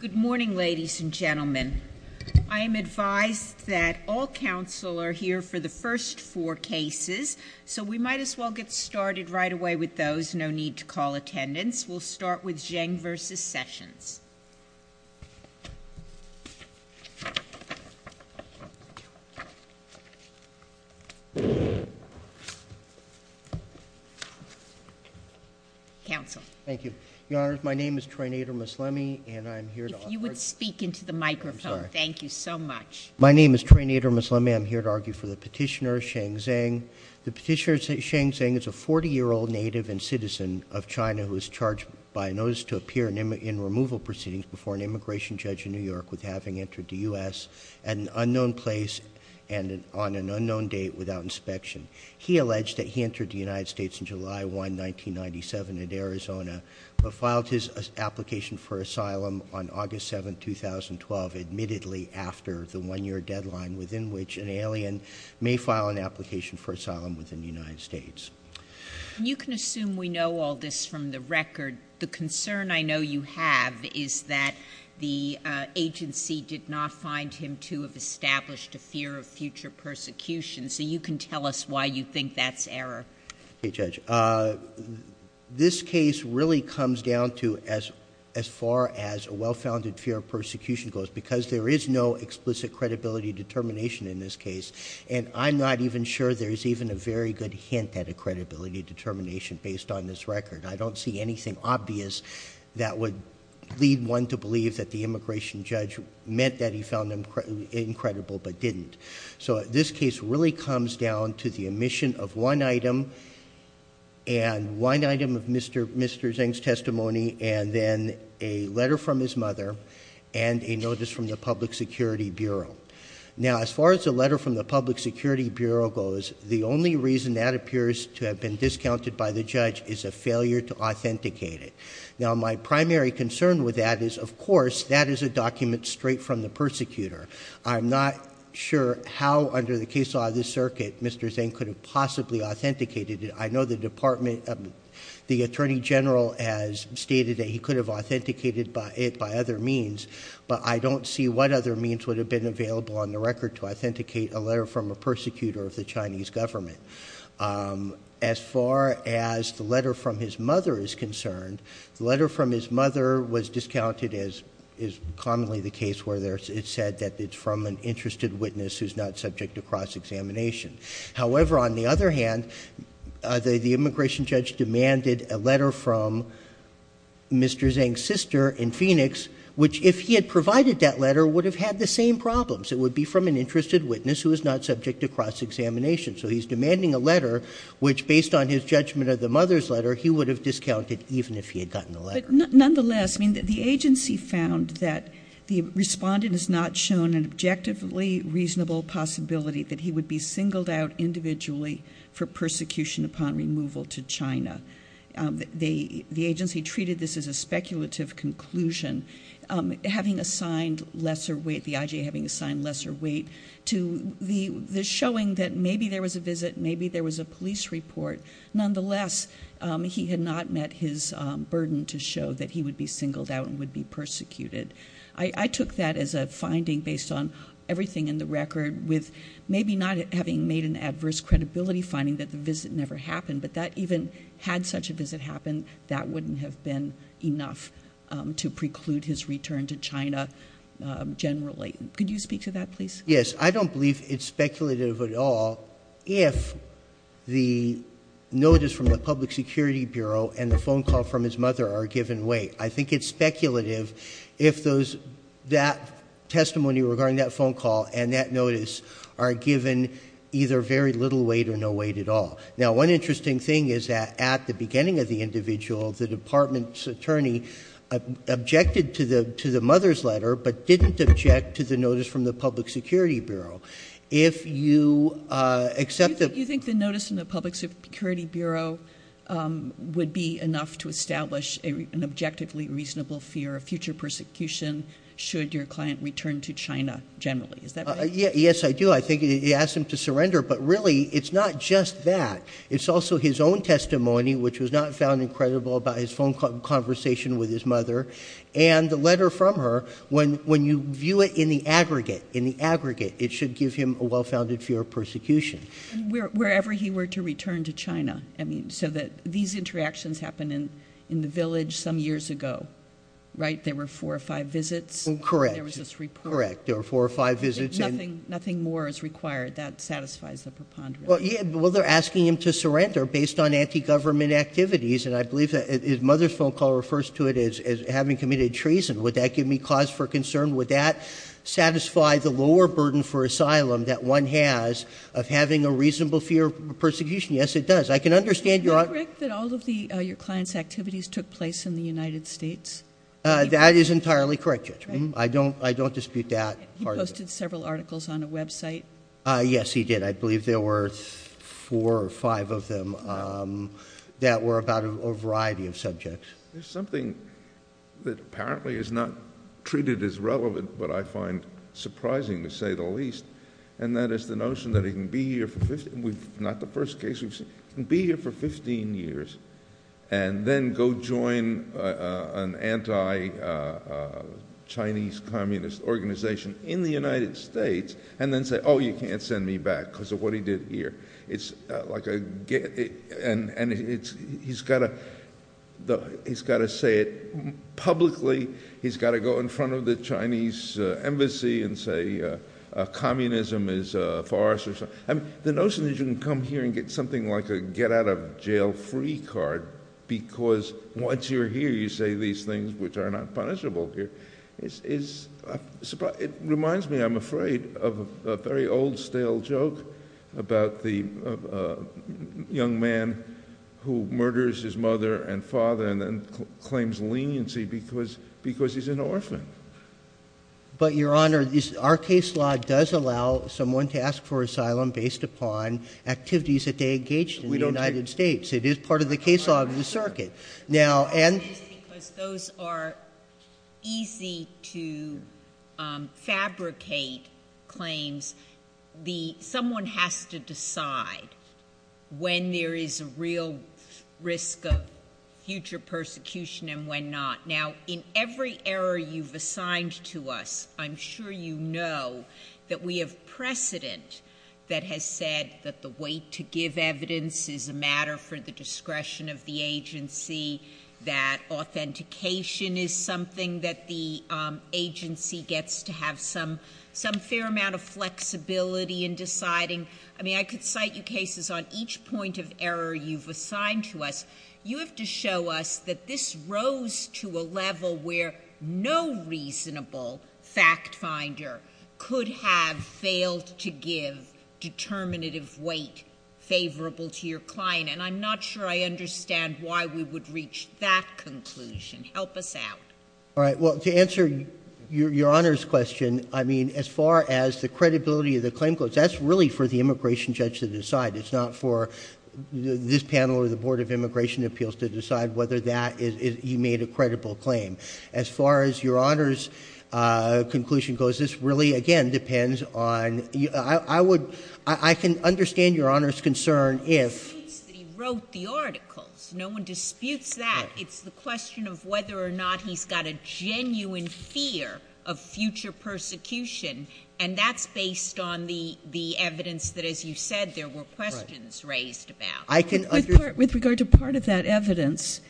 Good morning ladies and gentlemen. I am advised that all counsel are here for the first four cases, so we might as well get started right away with those. No need to call attendance. We'll start with Zhang v. Sessions. Counsel. Thank you. Your Honor, my name is Trainator Ms. Lemme, and I'm here to offer If you would speak into the microphone, thank you so much. My name is Trainator Ms. Lemme, and I'm here to argue for the petitioner, Sheng Zheng. The petitioner, Sheng Zheng, is a 40-year-old native and citizen of China who is charged by notice to appear in removal proceedings before an immigration judge in New York with having entered the U.S. at an unknown place and on an unknown date without inspection. He alleged that he entered the United States on July 1, 1997 in Arizona, but filed his application for asylum on August 7, 2012, admittedly after the one-year deadline within which an alien may file an application for asylum within the United States. You can assume we know all this from the record. The concern I know you have is that the agency did not find him to have established a fear of future persecution, so you can tell us why you think that's error. Okay, Judge. This case really comes down to as far as a well-founded fear of persecution goes, because there is no explicit credibility determination in this record. I don't see anything obvious that would lead one to believe that the immigration judge meant that he found him incredible, but didn't. So this case really comes down to the omission of one item, and one item of Mr. Zheng's testimony, and then a letter from his mother, and a notice from the Public Security Bureau. Now, as far as the letter from the Public Security Bureau goes, the only reason that appears to have been discounted by the judge is a failure to authenticate it. Now, my primary concern with that is, of course, that is a document straight from the persecutor. I'm not sure how, under the case law of this circuit, Mr. Zheng could have possibly authenticated it. I know the Attorney General has stated that he could have authenticated it by other means, but I don't see what other means would have been available on the record to authenticate a letter from a persecutor of the Chinese government. As far as the letter from his mother is concerned, the letter from his mother was discounted as is commonly the case where it's said that it's from an interested witness who's not subject to cross-examination. However, on the other hand, the immigration judge demanded a letter from Mr. Zheng's sister in Phoenix, which, if he had provided that letter, would have had the same problems. It would be from an interested witness who is not subject to cross-examination. So he's demanding a letter which, based on his judgment of the mother's letter, he would have discounted even if he had gotten the letter. Nonetheless, I mean, the agency found that the respondent has not shown an objectively reasonable possibility that he would be singled out individually for persecution upon removal to China. The agency treated this as a speculative conclusion. Having assigned lesser weight, the IJA having assigned lesser weight to the showing that maybe there was a visit, maybe there was a police report, nonetheless, he had not met his burden to show that he would be singled out and would be persecuted. I took that as a finding based on everything in the record with maybe not having made an adverse credibility finding that the visit never happened, but that even had such a visit happen, that wouldn't have been enough to preclude his return to China generally. Could you speak to that, please? Yes. I don't believe it's speculative at all if the notice from the Public Security Bureau and the phone call from his mother are given weight. I think it's speculative if that testimony regarding that phone call and that notice are given either very little weight or no weight. One interesting thing is that at the beginning of the individual, the department's attorney objected to the mother's letter, but didn't object to the notice from the Public Security Bureau. If you accept that... You think the notice from the Public Security Bureau would be enough to establish an objectively reasonable fear of future persecution should your client return to China generally. Is that right? Yes, I do. I think he asked him to surrender, but really it's not just that. It's also his own testimony, which was not found incredible about his phone conversation with his mother and the letter from her. When you view it in the aggregate, it should give him a well-founded fear of persecution. Wherever he were to return to China, so that these interactions happened in the village some years ago, right? There were four or five visits, and there was this report. Correct. There were four or five visits. Nothing more is required. That satisfies the preponderance. Well, they're asking him to surrender based on anti-government activities, and I believe that his mother's phone call refers to it as having committed treason. Would that give me cause for concern? Would that satisfy the lower burden for asylum that one has of having a reasonable fear of persecution? Yes, it does. I can understand your... Is it correct that all of your client's activities took place in the United States? That is entirely correct, Judge. I don't dispute that part of it. He posted several articles on a website? Yes, he did. I believe there were four or five of them that were about a variety of subjects. There's something that apparently is not treated as relevant, but I find surprising to say the least, and that is the notion that he can be here for 15... Not the first case we've seen. He can be here for 15 years and then go join an anti-Chinese communist organization in the United States and then say, oh, you can't send me back because of what he did here. He's got to say it publicly. He's got to go in front of the Chinese embassy and say communism is for us. The notion that you can come here and get something like a get out of jail free card because once you're here, you say these things which are not punishable here. It reminds me, I'm afraid, of a very old, stale joke about the young man who murders his mother and father and then claims leniency because he's an orphan. But Your Honor, our case law does allow someone to ask for asylum based upon activities that they engaged in the United States. It is part of the case law of the circuit. Those are easy to fabricate claims. Someone has to decide when there is a real risk of future persecution and when not. Now, in every error you've assigned to us, I'm sure you know that we have precedent that has said that the weight to give evidence is a matter for the discretion of the agency, that authentication is something that the agency gets to have some fair amount of flexibility in deciding. I mean, I could cite you cases on each point of error you've assigned to us. You have to show us that this rose to a level where no reasonable fact finder could have failed to give determinative weight favorable to your client. And I'm not sure I understand why we would reach that conclusion. Help us out. All right. Well, to answer Your Honor's question, I mean, as far as the credibility of the claim goes, that's really for the immigration judge to decide. It's not for this panel or the Board of Immigration Appeals to decide whether that is, you made a credible claim. As far as Your Honor's conclusion goes, this really, again, depends on, I would, I can understand Your Honor's concern if... No one disputes that he wrote the articles. No one disputes that. It's the question of whether or not he's got a genuine fear of future persecution. And that's based on the evidence that, as you said, there were questions raised about. With regard to part of that evidence,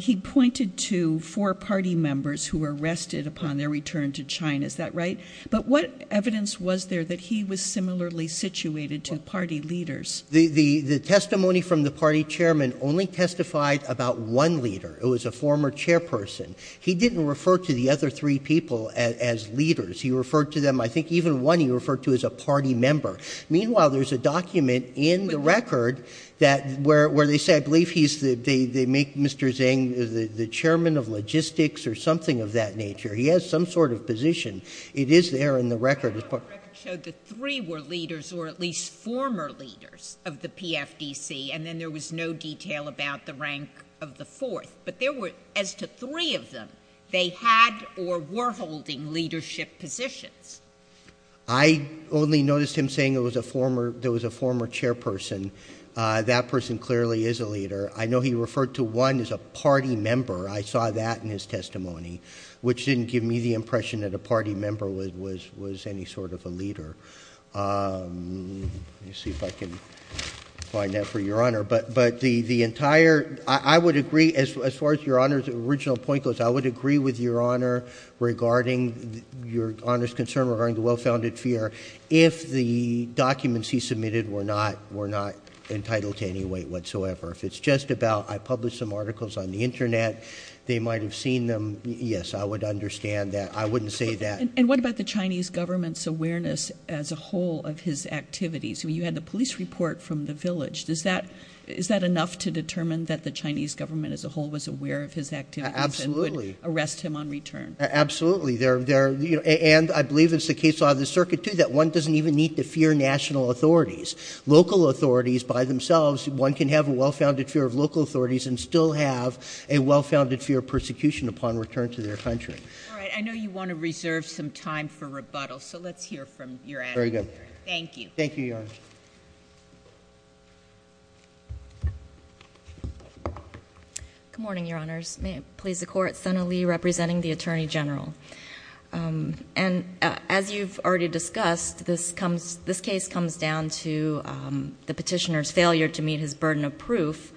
he pointed to four party members who were arrested upon their return to China. Is that right? But what evidence was there that he was similarly situated to party leaders? The testimony from the party chairman only testified about one leader. It was a former chairperson. He didn't refer to the other three people as leaders. He referred to them, I think even one he referred to as a party member. Meanwhile, there's a document in the record that, where they say, I believe he's the, they make Mr. Zhang the chairman of logistics or something of that nature. He has some sort of position. It is there in the record. The record showed that three were leaders or at least former leaders of the PFDC, and then there was no detail about the rank of the fourth. But there were, as to three of them, they had or were holding leadership positions. I only noticed him saying it was a former, there was a former chairperson. Uh, that person clearly is a leader. I know he referred to one as a party member. I saw that in his testimony, which didn't give me the impression that a party member was, was, was any sort of a leader. Um, let me see if I can find that for your honor. But, but the, the entire, I would agree as far as your honor's original point goes, I would agree with your honor regarding your honor's concern regarding the well-founded fear. If the documents he submitted were not, were not entitled to any weight whatsoever. If it's just about, I published some articles on the internet, they might've seen them. Yes, I would understand that. I wouldn't say that. And what about the Chinese government's awareness as a whole of his activities? I mean, you had the police report from the village. Does that, is that enough to determine that the Chinese government as a whole was aware of his activities and would arrest him on return? Absolutely. There, there, and I believe it's the case out of the circuit too, that one doesn't even need to fear national authorities, local authorities by themselves. One can have a well-founded fear of local authorities and still have a well-founded fear of persecution upon return to their country. All right. I know you want to reserve some time for rebuttal, so let's hear from your advocate. Very good. Thank you. Thank you, your honor. Good morning, your honors. May it please the court. Sena Lee representing the Attorney General. Um, and as you've already discussed, this comes, this case comes down to, um, the lack of proof.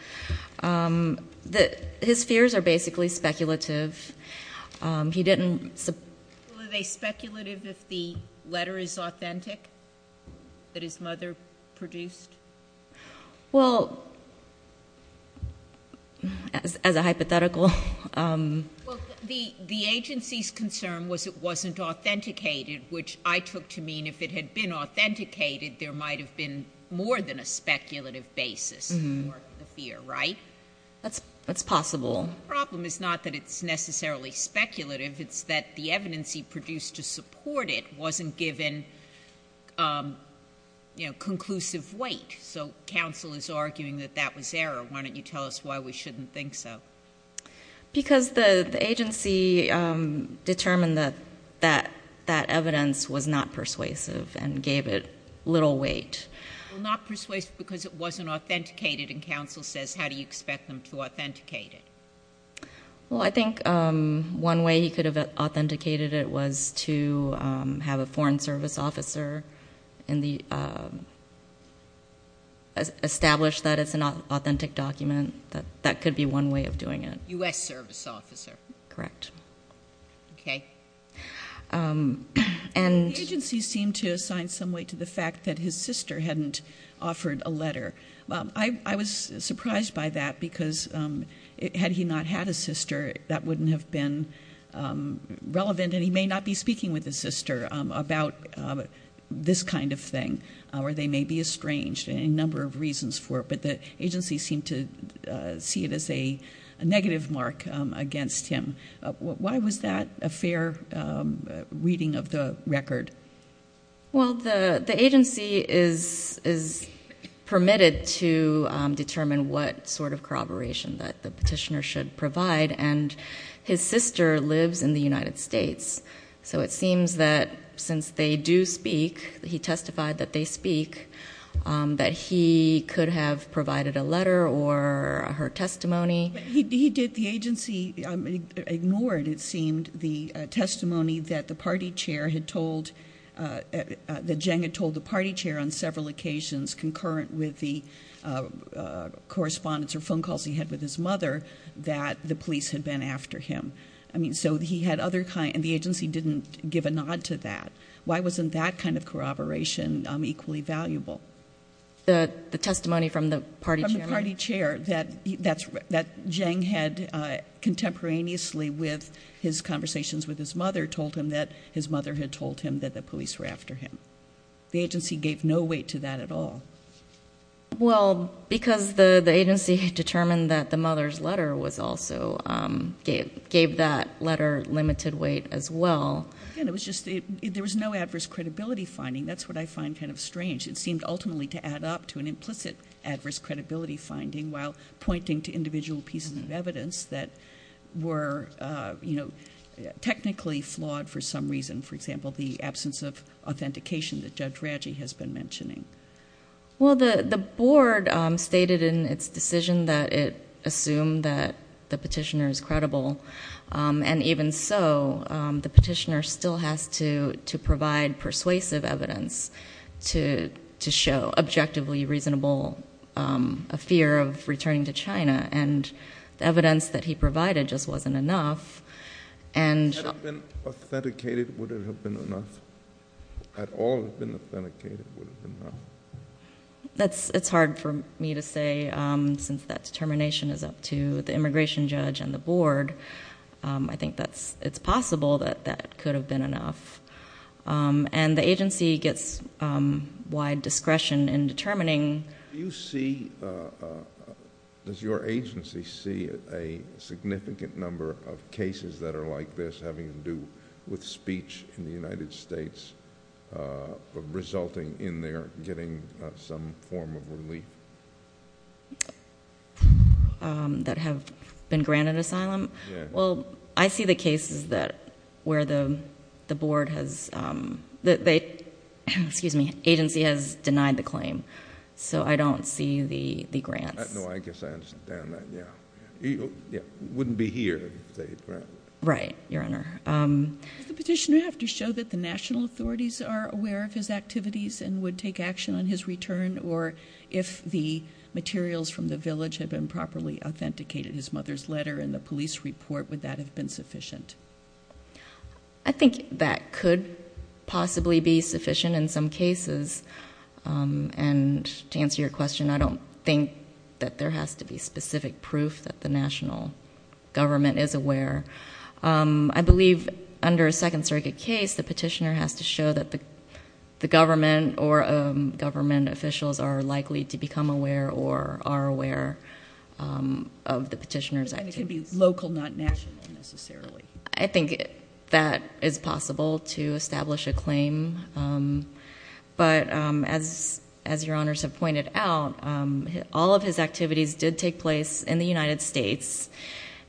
Um, that his fears are basically speculative. Um, he didn't. Were they speculative if the letter is authentic? That his mother produced? Well, as a hypothetical, um. Well, the agency's concern was it wasn't authenticated, which I took to mean if it had been authenticated, there might have been more than a speculative basis for the fear, right? That's, that's possible. The problem is not that it's necessarily speculative, it's that the evidence he produced to support it wasn't given, um, you know, conclusive weight. So counsel is arguing that that was error. Why don't you tell us why we shouldn't think so? Because the, the agency, um, determined that, that, that evidence was not persuasive and gave it little weight. Well, not persuasive because it wasn't authenticated and counsel says, how do you expect them to authenticate it? Well, I think, um, one way he could have authenticated it was to, um, have a foreign service officer in the, um, establish that it's an authentic document and that, that could be one way of doing it. U.S. service officer. Correct. Okay. Um, and. The agency seemed to assign some weight to the fact that his sister hadn't offered a letter. Um, I, I was surprised by that because, um, had he not had a sister, that wouldn't have been, um, relevant and he may not be speaking with his sister, um, about, um, this kind of thing, uh, where they may be estranged and a number of reasons for it, but the agency seemed to, uh, see it as a negative mark, um, against him. Why was that a fair, um, reading of the record? Well, the, the agency is, is permitted to, um, determine what sort of corroboration that the petitioner should provide and his sister lives in the United States. So it seems that since they do speak, he testified that they speak, um, that he could have provided a letter or her testimony. He did the agency ignored. It seemed the testimony that the party chair had told, uh, uh, the Jenga told the party chair on several occasions concurrent with the, uh, uh, correspondence or phone calls he had with his mother that the police had been after him. I mean, so he had other kind and the agency didn't give a nod to that. Why wasn't that kind of corroboration, um, equally valuable? The testimony from the party chair that that's, that Jane had, uh, contemporaneously with his conversations with his mother told him that his mother had told him that the police were after him. The agency gave no weight to that at all. Well, because the, the agency had determined that the mother's testimony also, um, gave, gave that letter limited weight as well. And it was just, there was no adverse credibility finding. That's what I find kind of strange. It seemed ultimately to add up to an implicit adverse credibility finding while pointing to individual pieces of evidence that were, uh, you know, technically flawed for some reason. For example, the absence of authentication that judge Reggie has been mentioning. Well, the, the board, um, stated in its decision that it assumed that the petitioner is credible. Um, and even so, um, the petitioner still has to, to provide persuasive evidence to, to show objectively reasonable, um, a fear of returning to China. And the evidence that he provided just wasn't enough. And... Had it been authenticated, would it have been enough? Had all been authenticated, would it have been enough? I would say, um, since that determination is up to the immigration judge and the board, um, I think that's, it's possible that, that could have been enough. Um, and the agency gets, um, wide discretion in determining... Do you see, uh, uh, does your agency see a significant number of cases that are like this having to do with speech in the United States, uh, resulting in their getting some form of relief? Um, that have been granted asylum? Yeah. Well, I see the cases that, where the, the board has, um, that they, excuse me, agency has denied the claim. So I don't see the, the grants. No, I guess I understand that, yeah. Yeah, wouldn't be here if they granted. Right, Your Honor. Um... Does the petitioner have to show that the national authorities are aware of his activities and would take action on his return? Or if the materials from the village have been properly authenticated, his mother's letter and the police report, would that have been sufficient? I think that could possibly be sufficient in some cases. Um, and to answer your question, I don't think that there has to be specific proof that the national government is aware. Um, I believe under a Second Circuit case, the petitioner has to show that the, the government or, um, government officials are likely to become aware or are aware, um, of the petitioner's activities. And it could be local, not national, necessarily. I think that is possible to establish a claim. Um, but, um, as, as Your Honors have pointed out, um, all of his activities did take place in the United States.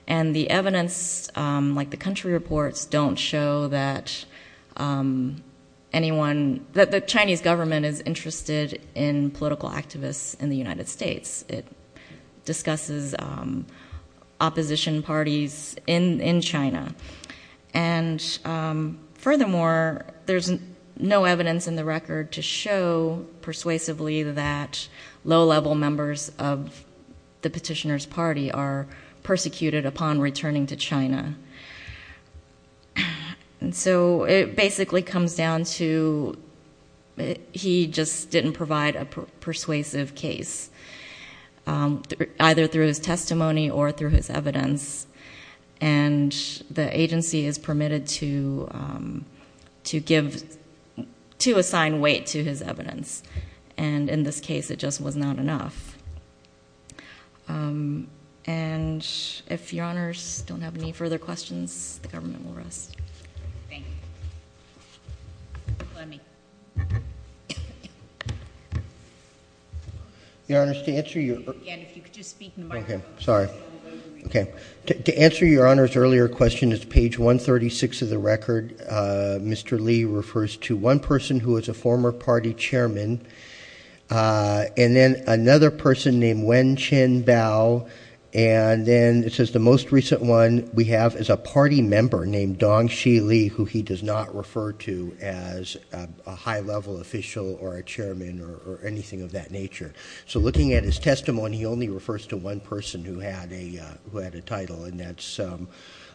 And the evidence, um, like the country reports don't show that, um, anyone, that the Chinese government is interested in political activists in the United States. It discusses, um, opposition parties in, in China. And, um, furthermore, there's no evidence in the record to show persuasively that low-level members of the petitioner's party are persecuted upon returning to China. And so it basically comes down to, he just didn't provide a persuasive case, um, either through his testimony or through his evidence. And the agency is permitted to, um, to give, to assign weight to his evidence. And in this case, it just was not enough. Um, and if Your Honors don't have any further questions, the government will rest. Thank you. Let me. Your Honors, to answer your... Again, if you could just speak in the microphone. Okay. Sorry. Okay. To answer Your Honors' earlier question, it's page 136 of the record. Uh, Mr. Li refers to one person who was a former party chairman, uh, and then another person named Wen Chin Bao. And then it says the most recent one we have is a party member named Dong Shi Li, who he does not refer to as a high-level official or a chairman or, or anything of that nature. So looking at his testimony, he only refers to one person who had a, uh, who had a title and that's, um,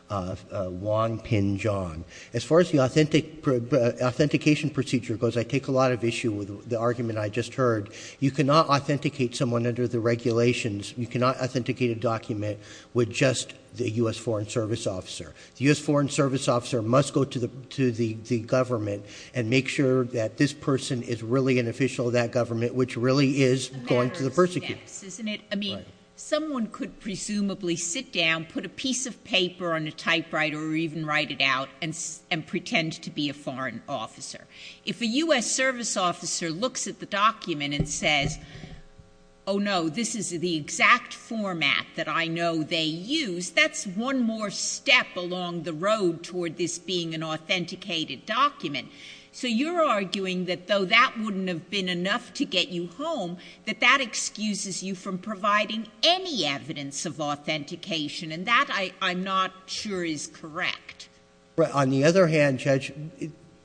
uh, uh, Wong Pin John. As far as the authentic, uh, authentication procedure goes, I take a lot of issue with the argument I just heard. You cannot authenticate someone under the regulations. You cannot authenticate a document with just the U.S. Foreign Service officer. The U.S. Foreign Service officer must go to the, to the, the government and make sure that this person is really an official of that government, which really is going to persecute. I mean, someone could presumably sit down, put a piece of paper on a typewriter or even write it out and, and pretend to be a foreign officer. If a U.S. Service officer looks at the document and says, oh no, this is the exact format that I know they use, that's one more step along the road toward this being an authenticated document. So you're arguing that though that wouldn't have been enough to get you home, that that excuses you from providing any evidence of authentication and that I, I'm not sure is correct. On the other hand, Judge,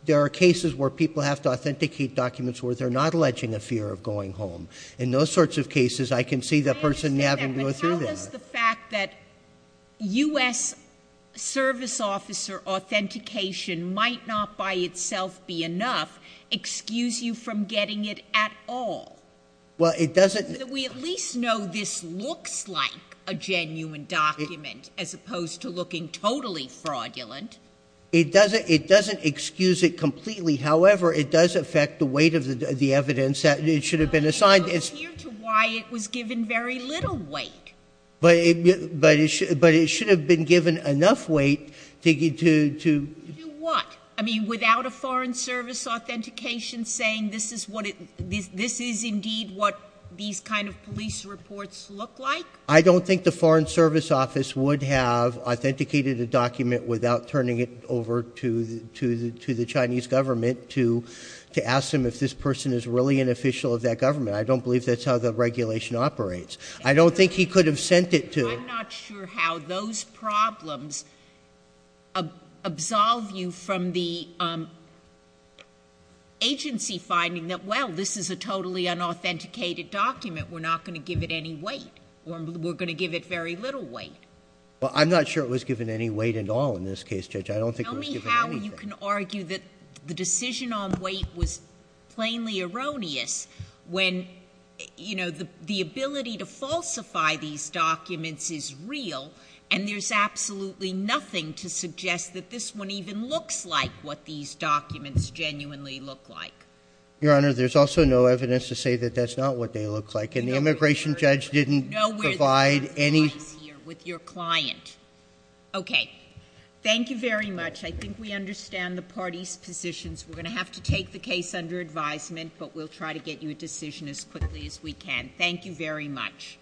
there are cases where people have to authenticate documents where they're not alleging a fear of going home. In those sorts of cases, I can see that person having to go through that. I understand that, but how does the fact that U.S. Service officer authentication might not by itself be enough, excuse you from getting it at all? Well, it doesn't. We at least know this looks like a genuine document as opposed to looking totally fraudulent. It doesn't, it doesn't excuse it completely. However, it does affect the weight of the evidence that it should have been assigned. It's not clear to why it was given very little weight. But it, but it should, but it should have been given enough weight to get to, to do what? I mean, without a foreign service authentication saying this is what it, this is indeed what these kind of police reports look like? I don't think the foreign service office would have authenticated a document without turning it over to the, to the, to the Chinese government to, to ask them if this person is really an official of that government. I don't believe that's how the regulation operates. I don't think he could have sent it to. I'm not sure how those problems, uh, absolve you from the, um, agency finding that, well, this is a totally unauthenticated document. We're not going to give it any weight or we're going to give it very little weight. Well, I'm not sure it was given any weight at all in this case, Judge. I don't think it was given anything. Tell me how you can argue that the decision on weight was plainly erroneous when, you know, the ability to falsify these documents is real and there's absolutely nothing to suggest that this one even looks like what these documents genuinely look like. Your Honor, there's also no evidence to say that that's not what they look like. And the immigration judge didn't provide any... You know where the compromise here with your client. Okay. Thank you very much. I think we understand the party's positions. We're going to have to take the case under advisement, but we'll try to get you a decision as quickly as we can. Thank you very much.